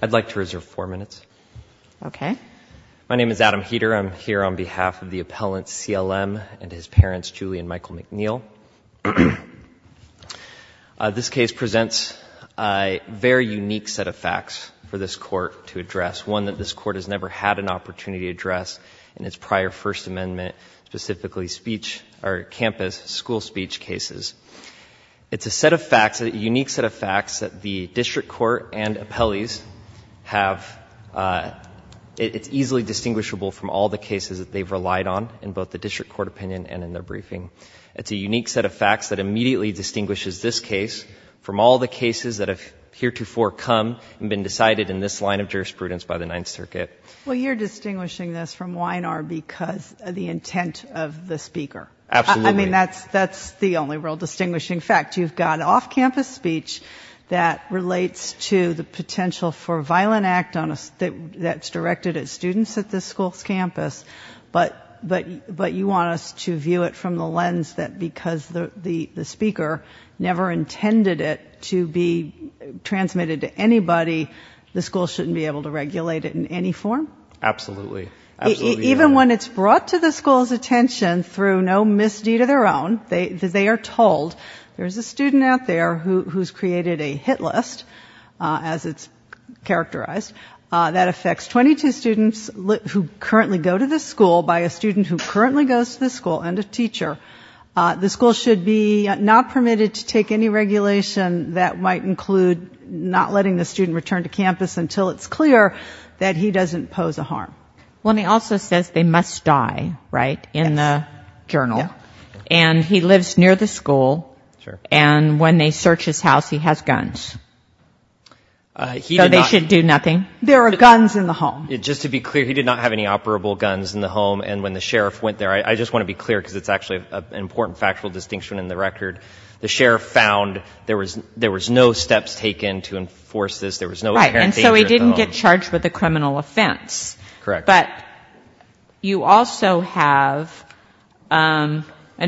I'd like to reserve four minutes. Okay. My name is Adam Heater. I'm here on behalf of the appellant CLM and his parents Julie and Michael McNeil. This case presents a very unique set of facts for this court to address, one that this court has never had an opportunity to address in its prior First Amendment, specifically speech or campus school speech cases. It's a set of facts, a set of facts that appellees have, it's easily distinguishable from all the cases that they've relied on in both the district court opinion and in their briefing. It's a unique set of facts that immediately distinguishes this case from all the cases that have heretofore come and been decided in this line of jurisprudence by the Ninth Circuit. Well you're distinguishing this from Weiner because of the intent of the speaker. Absolutely. I mean that's that's the only real distinguishing fact. You've got off-campus speech that relates to the potential for violent act that's directed at students at this school's campus, but you want us to view it from the lens that because the speaker never intended it to be transmitted to anybody, the school shouldn't be able to regulate it in any form? Absolutely. Even when it's brought to the school's attention through no misdeed of their own, they are told there's a student out there who's created a hit list, as it's characterized, that affects 22 students who currently go to this school by a student who currently goes to this school and a teacher. The school should be not permitted to take any regulation that might include not letting the student return to campus until it's clear that he doesn't pose a harm. Well he also says they must die, right, in the journal, and he lives near the school, and when they search his house he has guns. So they should do nothing? There are guns in the home. Just to be clear, he did not have any operable guns in the home, and when the sheriff went there, I just want to be clear because it's actually an important factual distinction in the record, the sheriff found there was there was no steps taken to enforce this, there was no... Right, and so he didn't get charged with a criminal offense. Correct. But you also have an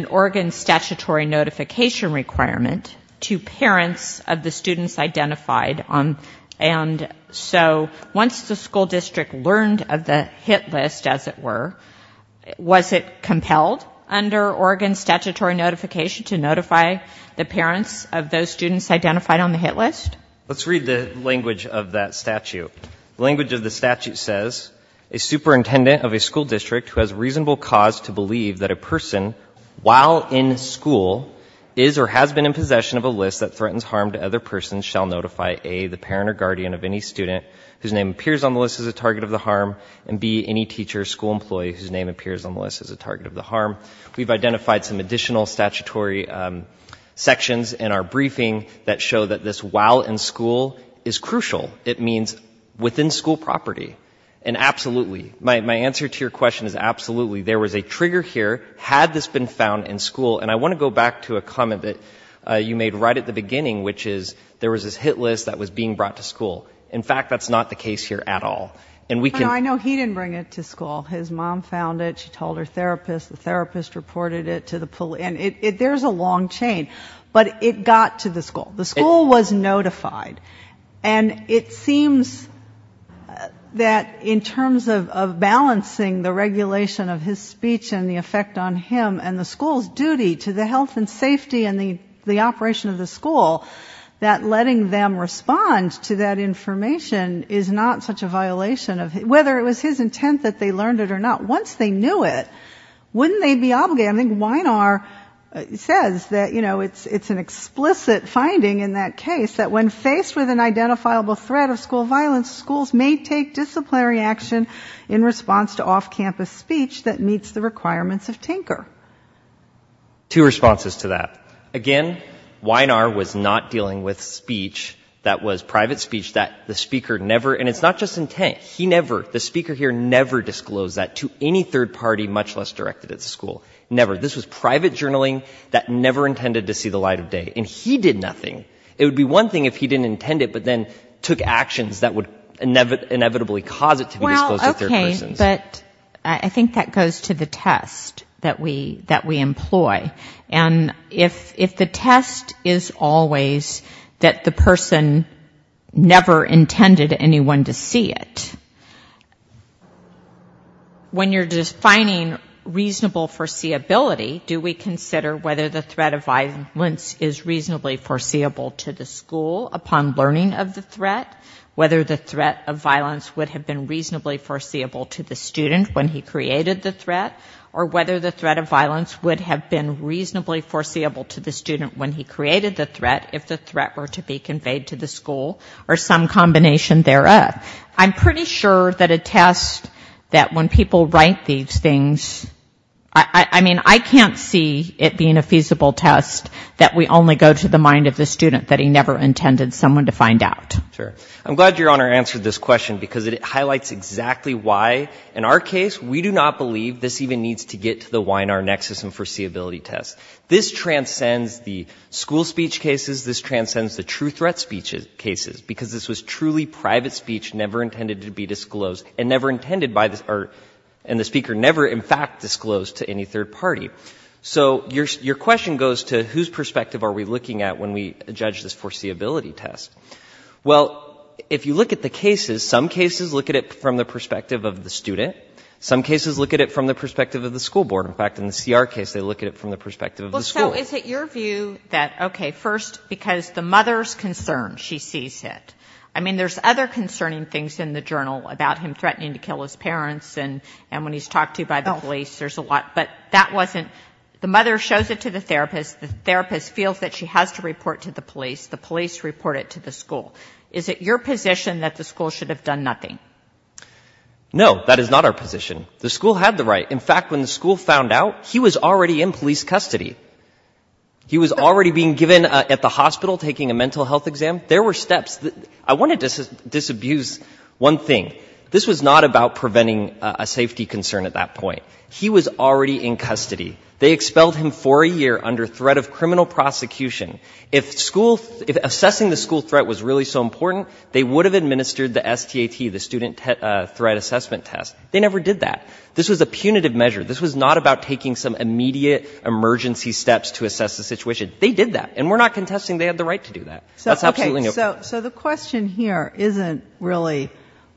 Oregon statutory notification requirement to parents of the students identified on, and so once the school district learned of the hit list, as it were, was it compelled under Oregon statutory notification to notify the parents of those students identified on the hit list? Let's read the language of that statute. The language of the statute says, a superintendent of a school district who has reasonable cause to believe that a person while in school is or has been in possession of a list that threatens harm to other persons shall notify A, the parent or guardian of any student whose name appears on the list as a target of the harm, and B, any teacher or school employee whose name appears on the list as a target of the harm. We've identified some additional statutory sections in our briefing that show that this while in school is crucial. It means within school property, and absolutely, my answer to your question is absolutely. There was a trigger here, had this been found in school, and I want to go back to a comment that you made right at the beginning, which is there was this hit list that was being brought to school. In fact, that's not the case here at all. And we can... I know he didn't bring it to school. His mom found it, she told her long chain, but it got to the school. The school was notified, and it seems that in terms of balancing the regulation of his speech and the effect on him and the school's duty to the health and safety and the operation of the school, that letting them respond to that information is not such a violation of... whether it was his intent that they learned it or not, once they knew it, wouldn't they be obligated? I think Weinar says that, you know, it's an explicit finding in that case that when faced with an identifiable threat of school violence, schools may take disciplinary action in response to off-campus speech that meets the requirements of Tinker. Two responses to that. Again, Weinar was not dealing with speech that was private speech that the speaker never... and it's not just intent. He never, the speaker here, never disclosed that to any third party, much less directed at the school. Never. This was private journaling that never intended to see the light of day. And he did nothing. It would be one thing if he didn't intend it, but then took actions that would inevitably cause it to be disclosed to third persons. Well, okay, but I think that goes to the test that we employ. And if the test is always that the person never intended anyone to see it, when you're just finding reasonable foreseeability, do we consider whether the threat of violence is reasonably foreseeable to the school upon learning of the threat? Whether the threat of violence would have been reasonably foreseeable to the student when he created the threat? Or whether the threat of violence would have been reasonably foreseeable to the student when he created the threat, if the threat were to be conveyed to the school, or some combination thereof? I'm pretty sure that a test that when people write these things, I mean, I can't see it being a feasible test that we only go to the mind of the student, that he never intended someone to find out. Sure. I'm glad your honor answered this question because it highlights exactly why, in our case, we do not believe this even needs to get to the wine our nexus and foreseeability test. This transcends the school speech cases, this transcends the true threat speeches cases, because this was truly private speech, never intended to be disclosed, and never intended by the, or, and the speaker never, in fact, disclosed to any third party. So, your question goes to, whose perspective are we looking at when we judge this foreseeability test? Well, if you look at the cases, some cases look at it from the perspective of the student. Some cases look at it from the perspective of the school board. In fact, in the CR case, they look at it from the perspective of the school. Well, so, is it your view that, okay, first, because the mother's concerned, she sees it. I mean, there's other concerning things in the journal about him threatening to kill his parents and, and when he's talked to by the police, there's a lot, but that wasn't, the mother shows it to the therapist, the therapist feels that she has to report to the police, the police report it to the school. Is it your position that the school should have done nothing? No, that is not our position. The school had the right. In fact, when the school found out, he was already in police custody. He was already being given, at the hospital, taking a mental health exam. There were steps. I want to disabuse one thing. This was not about preventing a safety concern at that point. He was already in custody. They expelled him for a year under threat of criminal prosecution. If school, if assessing the school threat was really so important, they would have administered the STAT, the student threat assessment test. They never did that. This was a punitive measure. This was not about taking some immediate emergency steps to assess the situation. They did that, and we're not contesting they had the right to do that. So the question here isn't really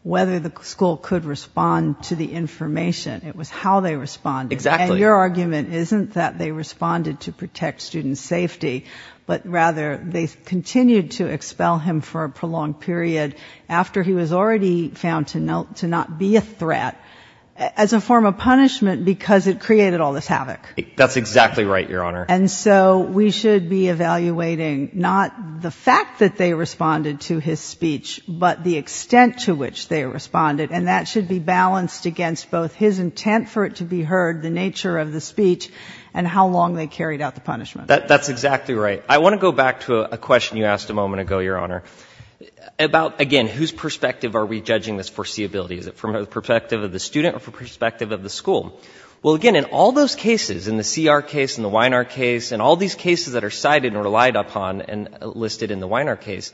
whether the school could respond to the information. It was how they responded. Exactly. And your argument isn't that they responded to protect student safety, but rather they continued to expel him for a prolonged period after he was already found to not be a threat as a form of punishment because it created all this havoc. That's exactly right, Your Honor. And so we should be evaluating not the fact that they responded to his speech, but the extent to which they responded. And that should be balanced against both his intent for it to be heard, the nature of the speech, and how long they carried out the punishment. That's exactly right. I want to go back to a question you asked a moment ago, Your Honor, about, again, whose perspective are we judging this foreseeability? Is it from the perspective of the student or from the perspective of the school? Well, again, in all those cases, in the CR case, in the Weiner case, in all these cases that are cited or relied upon and listed in the Weiner case,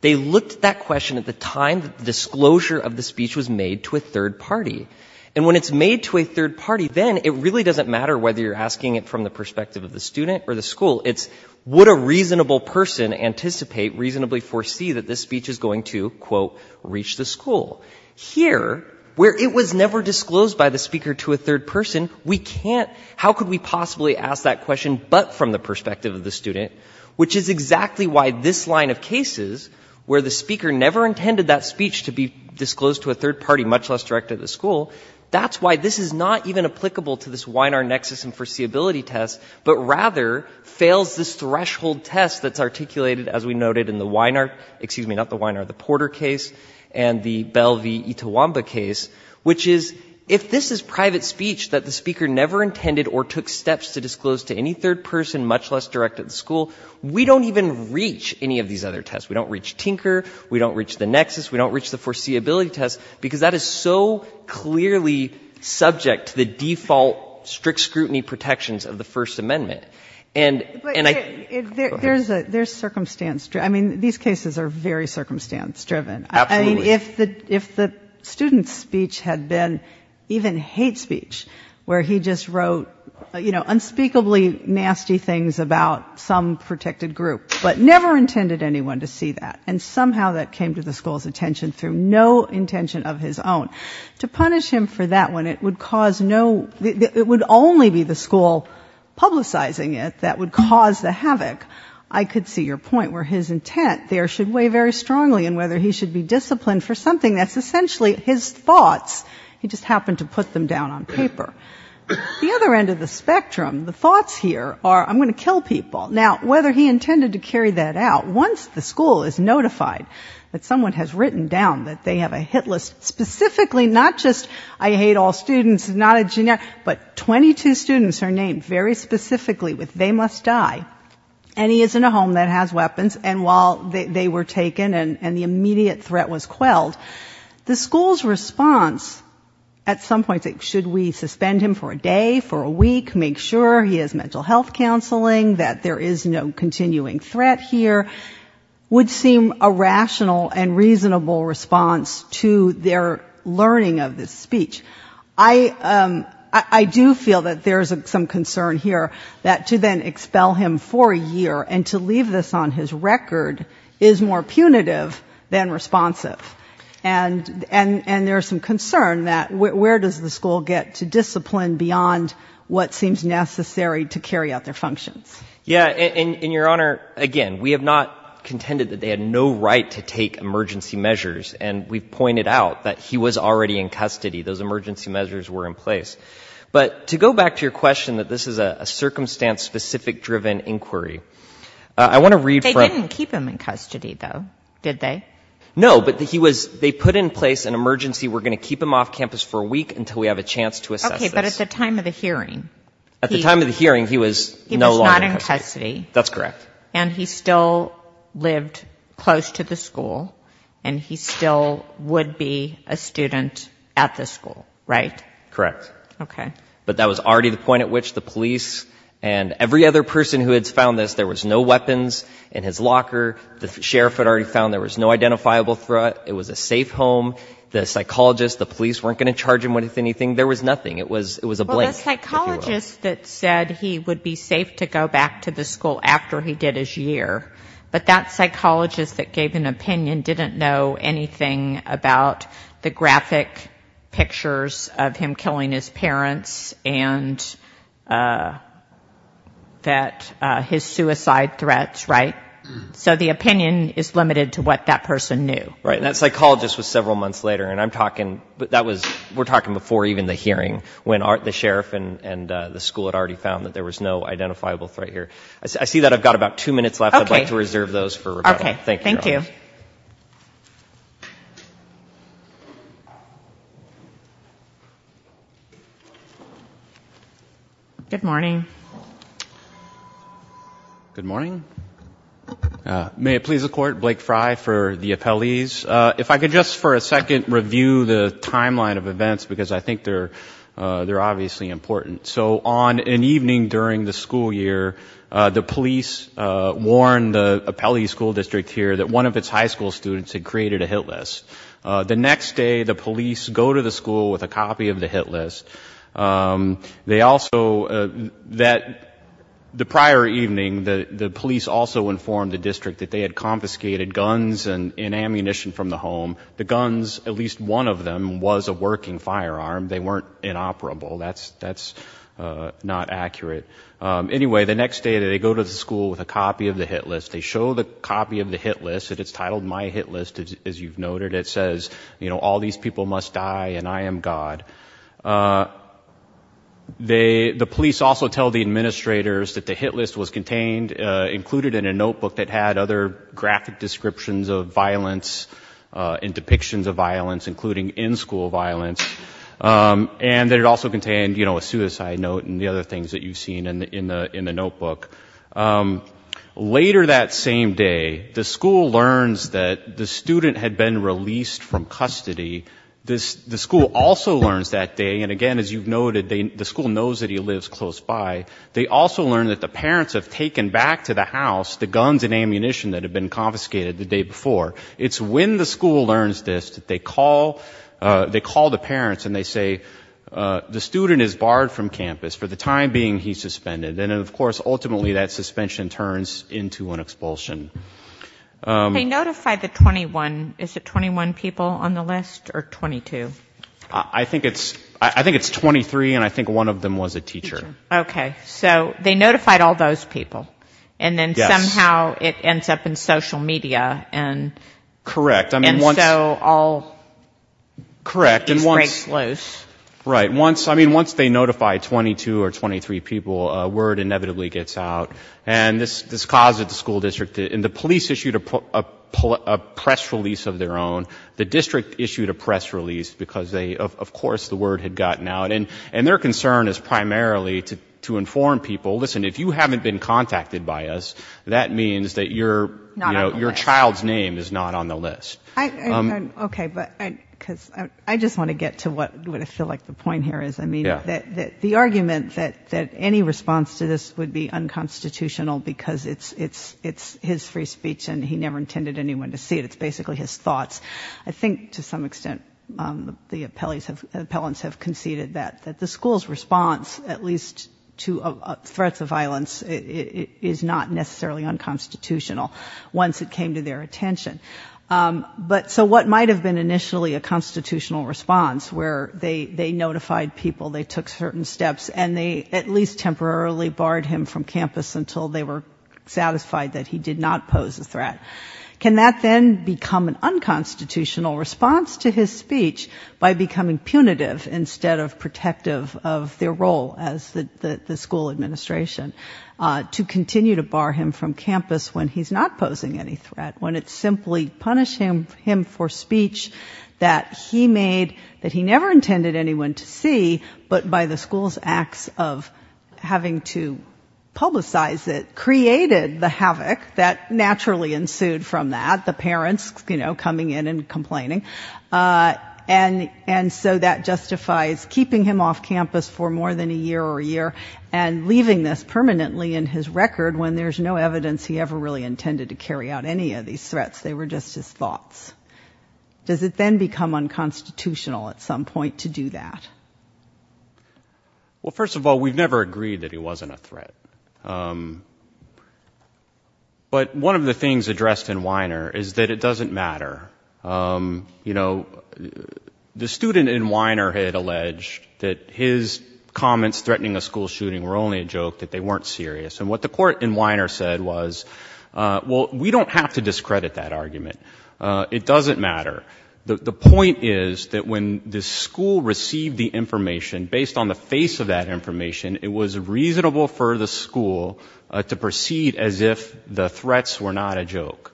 they looked at that question at the time that the disclosure of the speech was made to a third party. And when it's made to a third party, then it really doesn't matter whether you're asking it from the perspective of the student or the school. It's would a reasonable person anticipate, reasonably foresee that this speech is going to, quote, reach the school. Here, where it was never disclosed by the speaker to a third person, we can't, how could we possibly ask that question but from the perspective of the student, which is exactly why this line of cases, where the speaker never intended that speech to be disclosed to a third party, much less direct to the school, that's why this is not even applicable to this Weiner nexus and foreseeability test, but rather fails this threshold test that's articulated, as we noted in the Weiner, excuse me, not the Weiner, the Porter case and the Bell v. Itawamba case, which is, if this is private speech that the speaker never intended or took steps to disclose to any third person, much less direct at the school, we don't even reach any of these other tests. We don't reach Tinker, we don't reach the nexus, we don't reach the foreseeability test, because that is so clearly subject to the default strict scrutiny protections of the First Amendment. And, and I... But there's a, there's circumstance, I mean, these cases are very circumstance driven. I mean, if the, if the student's speech had been even hate speech, where he just wrote, you know, unspeakably nasty things about some protected group, but never intended anyone to see that, and somehow that came to the school's attention through no intention of his own, to punish him for that one, it would cause no, it would only be the school publicizing it that would cause the havoc. I could see your point, where his intent there should weigh very strongly in whether he should be disciplined for something that's essentially his thoughts, he just happened to put them down on paper. The other end of the spectrum, the thoughts here are, I'm going to kill people. Now, whether he intended to carry that out, once the school is notified that someone has written down that they have a hit list, specifically not just, I hate all students, not a generic, but 22 students are named very specifically with, they must die, and he is in a home that has weapons, and while they, they were taken and the immediate threat was quelled, the school's response, at some point, should we suspend him for a day, for a week, make sure he has mental health counseling, that there is no continuing threat here, would seem a rational and reasonable response to their learning of this speech. I do feel that there's some concern here that to then expel him for a year, and to leave this on his record, is more punitive than responsive. And, and, and there's some concern that where does the school get to discipline beyond what seems necessary to carry out their functions? Yeah, and, and your Honor, again, we have not contended that they had no right to take emergency measures, and we've pointed out that he was already in custody, those emergency measures were in place. But to go back to your question that this is a, a circumstance-specific driven inquiry, I want to read from... They didn't keep him in custody, though, did they? No, but he was, they put in place an emergency, we're going to keep him off campus for a week until we have a chance to assess this. Okay, but at the time of the hearing, he... At the time of the hearing, he was no longer in custody. He was not in custody. That's correct. And he still lived close to the school, and he still would be a student at the school, right? Correct. Okay. But that was already the point at which the police and every other person who had found this, there was no weapons in his locker, the sheriff had already found there was no identifiable threat, it was a safe home, the psychologist, the police weren't going to charge him with anything, there was nothing. It was, it was a blank, if you will. Well, the psychologist that said he would be safe to go back to the school after he did his year, but that psychologist that gave an opinion didn't know anything about the graphic pictures of him killing his parents and that, his suicide threats, right? So the opinion is limited to what that person knew. Right. And that psychologist was several months later, and I'm talking, that was, we're talking before even the hearing, when the sheriff and the school had already found that there was no identifiable threat here. I see that I've got about two minutes left. I'd like to reserve those for Rebecca. Okay, thank you. Good morning. Good morning. May it please the court, Blake Frye for the appellees. If I could just for a second review the timeline of events, because I think they're, they're obviously important. So on an evening during the school year, the police warned the appellee school district here that one of its high school students had created a hit list. The next day, the police go to the school with a copy of the hit list. They also, that the prior evening, the police also informed the district that they had confiscated guns and ammunition from the home. The guns, at least one of them was a working firearm. They weren't inoperable. That's, that's not accurate. Anyway, the next day that they go to the school with a copy of the hit list, they show the copy of the hit list. And it's titled My Hit List, as you've noted. It says, you know, all these people must die, and I am God. They, the police also tell the administrators that the hit list was contained, included in a notebook that had other graphic descriptions of violence and depictions of violence, including in-school violence, and that it also contained, you know, a suicide note and the other things that you've seen in the, in the, in the notebook. Later that same day, the school learns that the student had been released from custody. This, the school also learns that day. And again, as you've noted, they, the school knows that he lives close by. They also learned that the parents have taken back to the house, the guns and ammunition that had been confiscated the day before. It's when the school learns this, that they call, they call the parents and they say, the student is barred from campus for the time being he's suspended. And of course, ultimately that suspension turns into an expulsion. They notify the 21, is it 21 people on the list or 22? I think it's, I think it's 23 and I think one of them was a teacher. Okay. So they notified all those people and then somehow it ends up in social media and. Correct. I mean, once, correct. And once, right. Once, I mean, once they notify 22 or 23 people, a word inevitably gets out and this, this causes the school district and the police issued a press release of their own. The district issued a press release because they, of course, the word had gotten out and, and their concern is primarily to, to inform people, listen, if you haven't been contacted by us, that means that you're, you know, your child's name is not on the list. I, okay. But I, cause I just want to get to what, what I feel like the point here is, I mean, that, that the argument that, that any response to this would be unconstitutional because it's, it's, it's his free speech and he never intended anyone to see it. It's basically his thoughts. I think to some extent the appellees have, appellants have conceded that, that the school's response at least to threats of violence is not necessarily unconstitutional once it came to their attention. But so what might've been initially a constitutional response where they, they notified people, they took certain steps and they at least temporarily barred him from campus until they were satisfied that he did not pose a threat. Can that then become an unconstitutional response to his speech by becoming punitive instead of protective of their role as the, the, the school administration to continue to bar him from campus when he's not posing any threats, that it would actually punish him, him for speech that he made, that he never intended anyone to see, but by the school's acts of having to publicize it created the havoc that naturally ensued from that. The parents, you know, coming in and complaining and, and so that justifies keeping him off campus for more than a year or a year and leaving this permanently in his record when there's no evidence he ever really intended to just his thoughts. Does it then become unconstitutional at some point to do that? Well, first of all, we've never agreed that he wasn't a threat, but one of the things addressed in Weiner is that it doesn't matter. You know, the student in Weiner had alleged that his comments threatening a school shooting were only a joke, that they weren't serious, and what the court in Weiner said was, well, we don't have to discredit that argument. It doesn't matter. The point is that when the school received the information, based on the face of that information, it was reasonable for the school to proceed as if the threats were not a joke.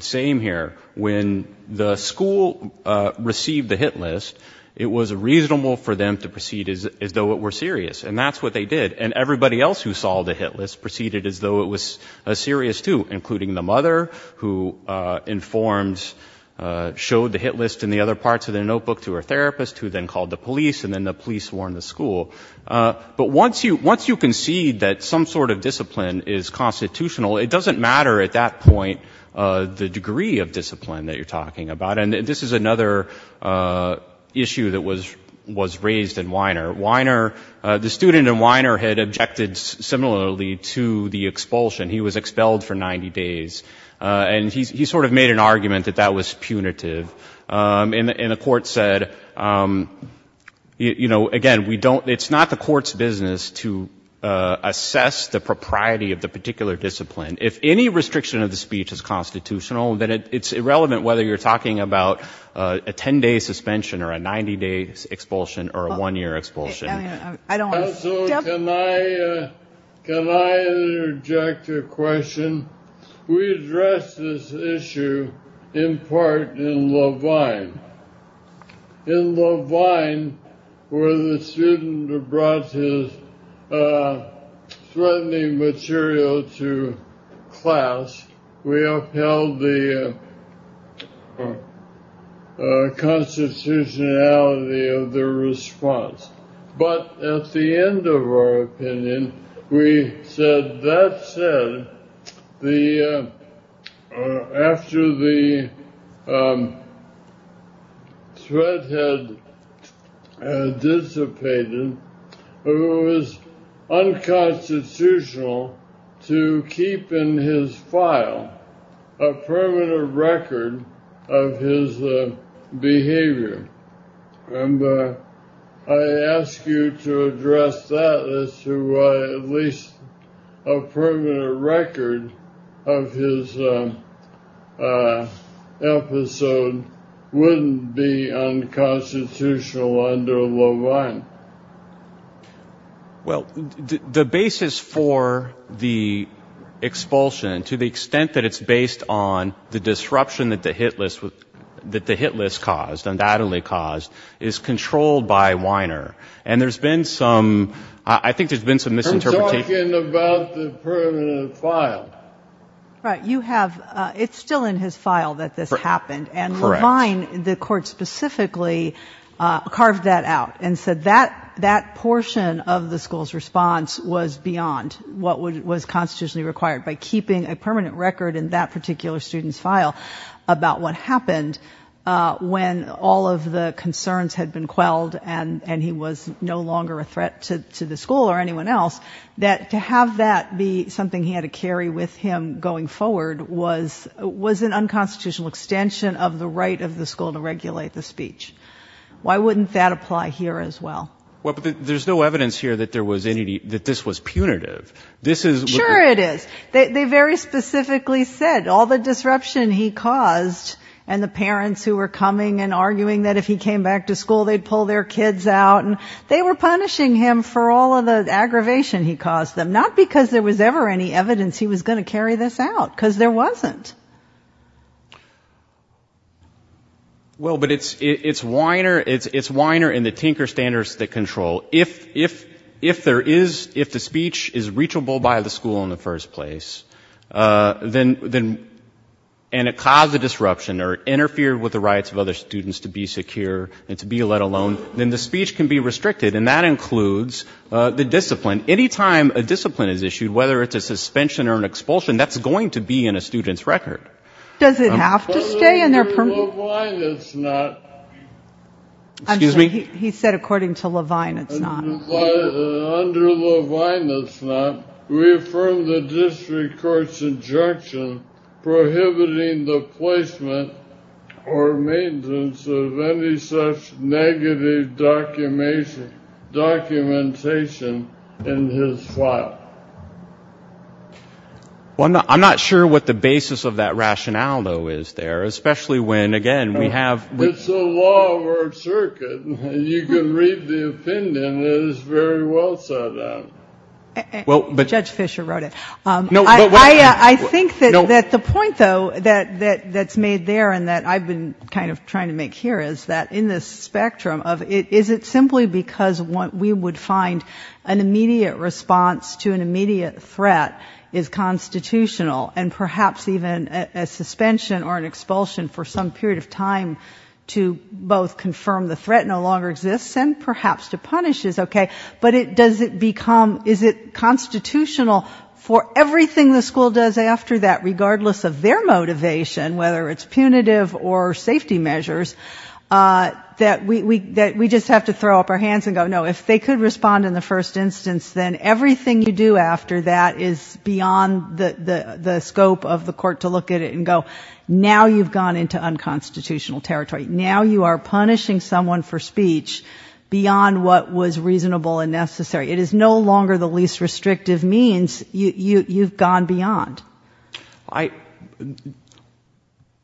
Same here. When the school received the hit list, it was reasonable for them to proceed as though it were serious, and that's what they did. And everybody else who saw the hit list proceeded as though it was a serious two, including the mother, who informed, showed the hit list and the other parts of the notebook to her therapist, who then called the police, and then the police warned the school. But once you concede that some sort of discipline is constitutional, it doesn't matter at that point the degree of discipline that you're talking about. And this is another issue that was raised in Weiner. Weiner, the student in Weiner had objected similarly to the expulsion. He was expelled for 90 days, and he sort of made an argument that that was punitive. And the court said, you know, again, we don't, it's not the court's business to assess the propriety of the particular discipline. If any restriction of the speech is constitutional, then it's irrelevant whether you're talking about a 10-day suspension or a 90-day expulsion or a one-year expulsion. Counselor, can I interject a question? We addressed this issue in part in Levine. In Levine, where the student brought his threatening material to class, we upheld the constitutionality of the response. But at the end of our opinion, we said that said, after the threat had dissipated, it was unconstitutional to keep in his file a permanent record of his behavior. And I ask you to address that as to why at least a permanent record of his episode wouldn't be unconstitutional under Levine. Well, the basis for the expulsion, to the extent that it's based on the disruption that the Hit List caused, undoubtedly caused, is controlled by Right. You have, it's still in his file that this happened. And Levine, the court specifically carved that out and said that that portion of the school's response was beyond what was constitutionally required by keeping a permanent record in that particular student's file about what happened when all of the concerns had been quelled and and he was no longer a threat to the school or anyone else, that to have that be something he had to carry with him going forward was was an unconstitutional extension of the right of the school to regulate the speech. Why wouldn't that apply here as well? Well, there's no evidence here that there was any, that this was punitive. This is... Sure it is. They very specifically said all the disruption he caused and the parents who were coming and arguing that if he came back to school they'd pull their kids out and they were punishing him for all of the aggravation he caused them, not because there was ever any evidence he was going to carry this out, because there wasn't. Well, but it's, it's whiner, it's whiner in the Tinker standards that control. If, if, if there is, if the speech is reachable by the school in the first place, then, then, and it caused the disruption or interfered with the rights of other students to be secure and to be let alone, then the speech can be restricted and that includes the discipline. Any time a discipline is issued, whether it's a suspension or an expulsion, that's going to be in a student's record. Does it have to stay in their permit? Under Levine it's not. Excuse me? He said according to Levine it's not. Under Levine it's not. We affirm the district court's injunction prohibiting the or maintenance of any such negative documentation, documentation in his file. Well, I'm not, I'm not sure what the basis of that rationale, though, is there, especially when, again, we have... It's the law of our circuit. You can read the opinion that is very well set out. Well, but... Judge Fischer wrote it. No, but... I, I think that, that the point, though, that, that, that's made there and that I've been kind of trying to make here is that in this spectrum of it, is it simply because what we would find an immediate response to an immediate threat is constitutional and perhaps even a suspension or an expulsion for some period of time to both confirm the threat no longer exists and perhaps to punish is okay, but it, does it become, is it constitutional for whether it's punitive or safety measures that we, we, that we just have to throw up our hands and go, no, if they could respond in the first instance, then everything you do after that is beyond the, the scope of the court to look at it and go, now you've gone into unconstitutional territory. Now you are punishing someone for speech beyond what was reasonable and necessary. It is no longer the least restrictive means. You, you, you've gone beyond. I,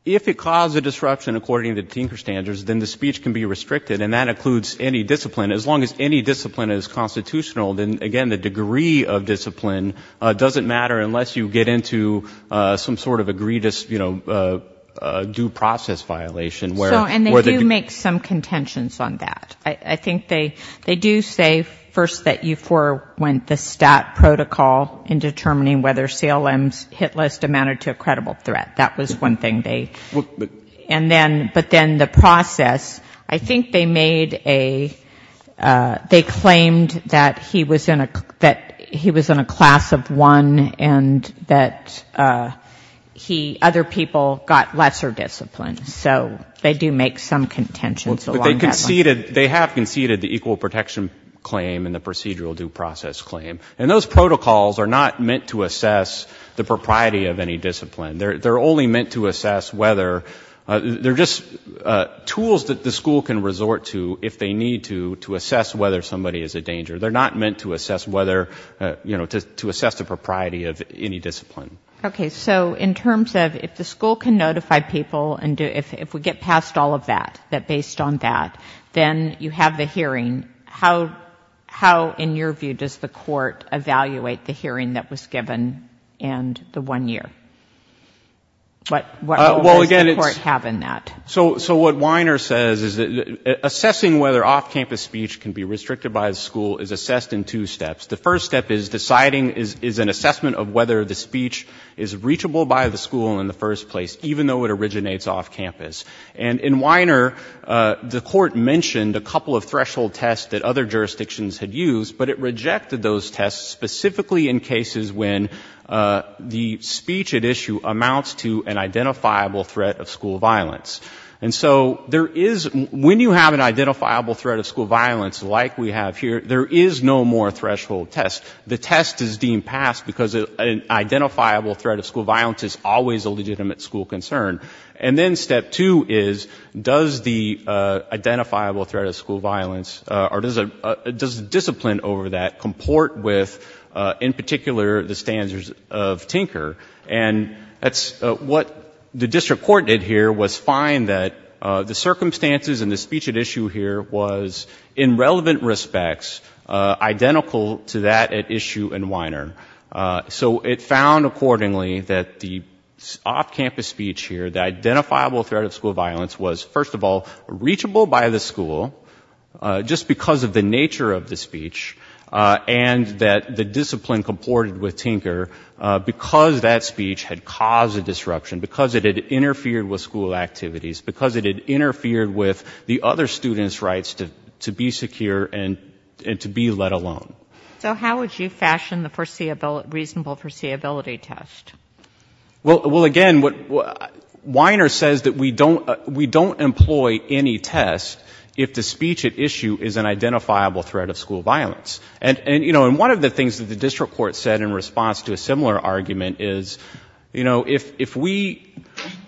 if it caused a disruption according to Tinker standards, then the speech can be restricted and that includes any discipline. As long as any discipline is constitutional, then again, the degree of discipline doesn't matter unless you get into some sort of agreed, you know, due process violation where... So, and they do make some contentions on that. I, I think they, they do say first that you for, went the stat protocol in determining whether CLM's hit list amounted to a credible threat. That was one thing they, and then, but then the process, I think they made a, they claimed that he was in a, that he was in a class of one and that he, other people got lesser discipline. So they do make some contentions along that line. They conceded, they have conceded the equal protection claim and the procedural due process claim. And those protocols are not meant to assess the propriety of any discipline. They're only meant to assess whether, they're just tools that the school can resort to if they need to, to assess whether somebody is a danger. They're not meant to assess whether, you know, to assess the propriety of any discipline. Okay. So in terms of if the school can notify people and if we get past all of that, that based on that, then you have the hearing, how, how in your view does the court evaluate the hearing that was given in the one year? What role does the court have in that? So, so what Weiner says is that assessing whether off campus speech can be restricted by the school is assessed in two steps. The first step is deciding, is an assessment of whether the speech is reachable by the school in the first place, even though it originates off campus. And in Weiner, the court mentioned a couple of threshold tests that other jurisdictions had used, but it rejected those tests specifically in cases when the speech at issue amounts to an identifiable threat of school violence. And so there is, when you have an identifiable threat of school violence like we have here, there is no more threshold test. The test is deemed passed because an identifiable threat of school violence is always a legitimate school concern. And then step two is, does the identifiable threat of school violence, or does the discipline over that comport with, in particular, the standards of Tinker? And that's what the district court did here was find that the circumstances and the speech at issue here was in relevant respects, identical to that at issue in Weiner. So it found accordingly that the off campus speech here, the identifiable threat of school violence was, first of all, reachable by the school, just because of the nature of the speech, and that the discipline comported with Tinker, because that speech had caused a disruption, because it had interfered with school activities, because it had interfered with the other students' rights to be secure and to be let alone. So how would you fashion the reasonable foreseeability test? Well, again, Weiner says that we don't employ any test if the speech at issue is an identifiable threat of school violence. And one of the things that the district court said in response to a similar argument is, you know, if we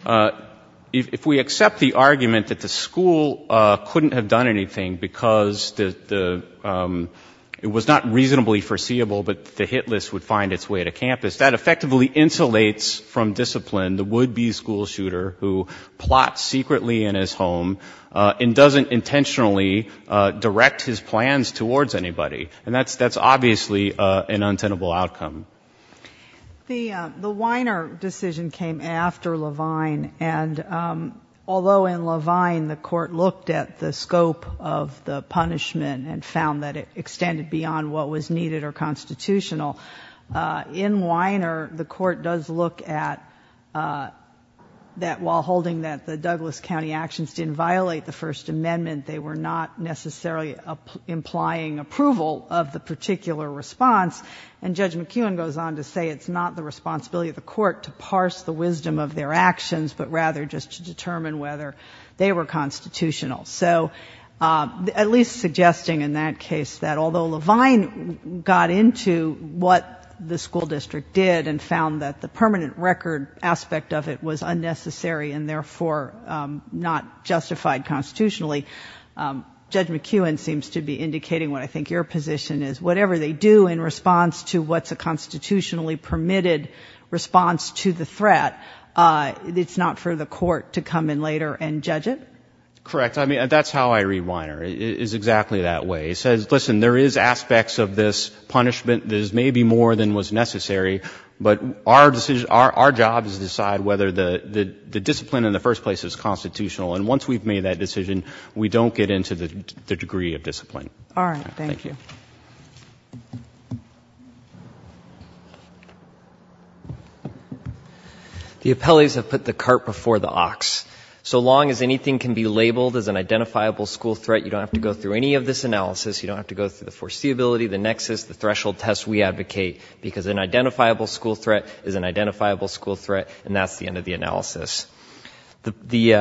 accept the argument that the school couldn't have done anything because it was not reasonably foreseeable, but the hit list would find its way to campus, that effectively insulates from discipline the would-be school shooter who plots secretly in his home and doesn't intentionally direct his plans towards anybody. And that's obviously an untenable outcome. The Weiner decision came after Levine, and although in Levine the court looked at the scope of the punishment and found that it extended beyond what was needed or constitutional, in Weiner the court does look at that while holding that the Douglas County actions didn't violate the First Amendment, they were not necessarily implying approval of the particular response, and Judge McEwen goes on to say it's not the responsibility of the court to parse the wisdom of their actions, but rather just to determine whether they were constitutional. So at least suggesting in that case that although Levine got into what the school district did and found that the permanent record aspect of it was unnecessary and therefore not justified constitutionally, Judge McEwen seems to be indicating what I think your position is, whatever they do in response to what's a constitutionally permitted response to the threat, it's not for the court to come in later and judge it? Correct. I mean, that's how I read Weiner. It's exactly that way. It says, listen, there is aspects of this punishment that is maybe more than what's necessary, but our job is to decide whether the discipline in the first place is constitutional. And once we've made that decision, we don't get into the degree of discipline. All right. Thank you. The appellees have put the cart before the ox. So long as anything can be labeled as an identifiable school threat, you don't have to go through any of this analysis, you don't have to go through the foreseeability, the nexus, the threshold test we advocate, because an identifiable school threat is an identifiable school threat, and that's the end of the analysis. The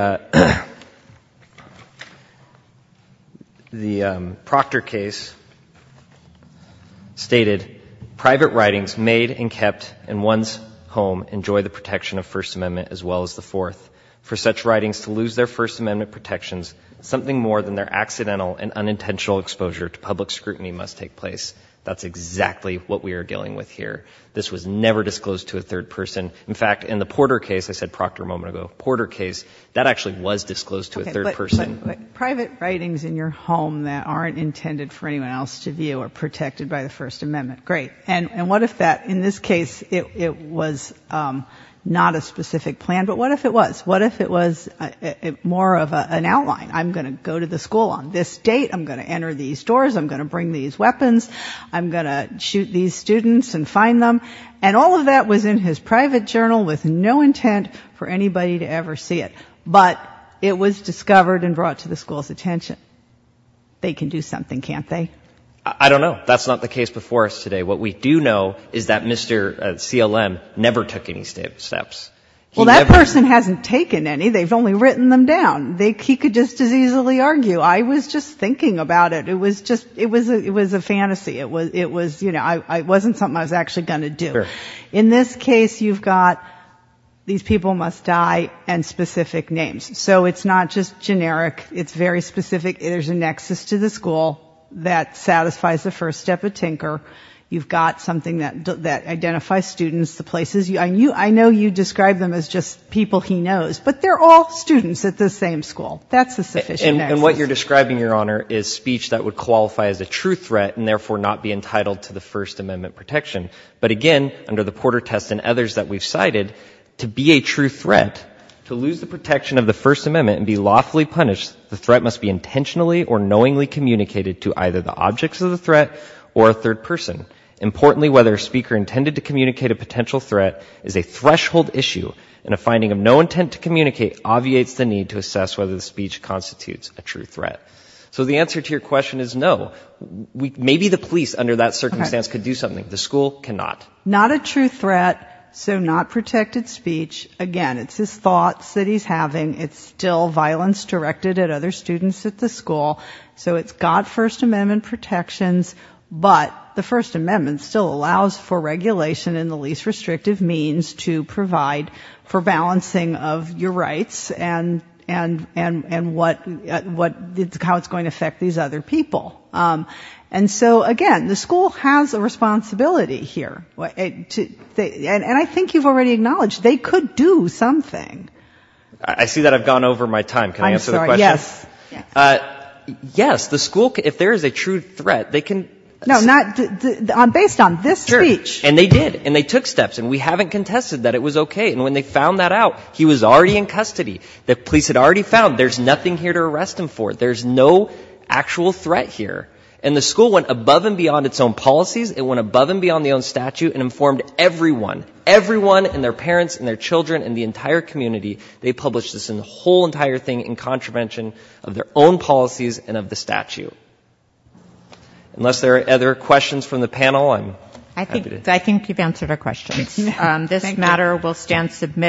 Proctor case stated, private writings made and kept in one's home enjoy the protection of First Amendment as well as the fourth. For such writings to lose their First Amendment protections, something more than their accidental and unintentional exposure to public scrutiny must take place. That's exactly what we are dealing with here. This was never disclosed to a third person. In fact, in the Porter case, I said Proctor a moment ago, Porter case, that actually was disclosed to a third person. But private writings in your home that aren't intended for anyone else to view are protected by the First Amendment. Great. And what if that, in this case, it was not a specific plan, but what if it was? What if it was more of an outline? I'm going to go to the school on this date. I'm going to enter these doors. I'm going to bring these weapons. I'm going to shoot these students and find them. And all of that was in his private journal with no intent for anybody to ever see it. But it was discovered and brought to the school's attention. They can do something, can't they? I don't know. That's not the case before us today. What we do know is that Mr. CLM never took any steps. Well, that person hasn't taken any. They've only written them down. He could just as easily argue. I was just thinking about it. It was just, it was a fantasy. It was, you know, it wasn't something I was actually going to do. In this case, you've got these people must die and specific names. So it's not just generic. It's very specific. There's a nexus to the school that satisfies the first step of Tinker. You've got something that identifies students, the places. I know you describe them as just people he knows, but they're all students at the same school. That's the sufficient nexus. And what you're describing, Your Honor, is speech that would qualify as a true threat and therefore not be entitled to the First Amendment protection. But again, under the Porter test and others that we've cited, to be a true threat, to lose the protection of the First Amendment and be lawfully punished, the threat must be intentionally or knowingly communicated to either the objects of the threat or a third person. Importantly, whether a speaker intended to communicate a potential threat is a threshold issue and a finding of no intent to communicate obviates the need to assess whether the speech constitutes a true threat. So the answer to your question is no. Maybe the police under that circumstance could do something. The school cannot. Not a true threat, so not protected speech. Again, it's his thoughts that he's having. It's still violence directed at other students at the school. So it's got First Amendment protections, but the First Amendment still allows for regulation in the least restrictive means to provide for balancing of your rights and what, how it's going to affect these other people. And so again, the school has a responsibility here. And I think you've already acknowledged they could do something. I see that I've gone over my time. Can I answer the question? Yes. The school, if there is a true threat, they can... No, based on this speech... Sure. And they did. And they took steps. And we haven't contested that it was okay. And when they found that out, he was already in custody. The police had already found there's nothing here to arrest him for. There's no actual threat here. And the school went above and beyond its own policies. It went above and beyond the own statute and informed everyone. Everyone and their parents and their children and the entire community. They published this in the whole entire thing in contravention of their own policies and of the statute. Unless there are other questions from the panel, I'm happy to... I think you've answered our questions. This matter will stand submitted.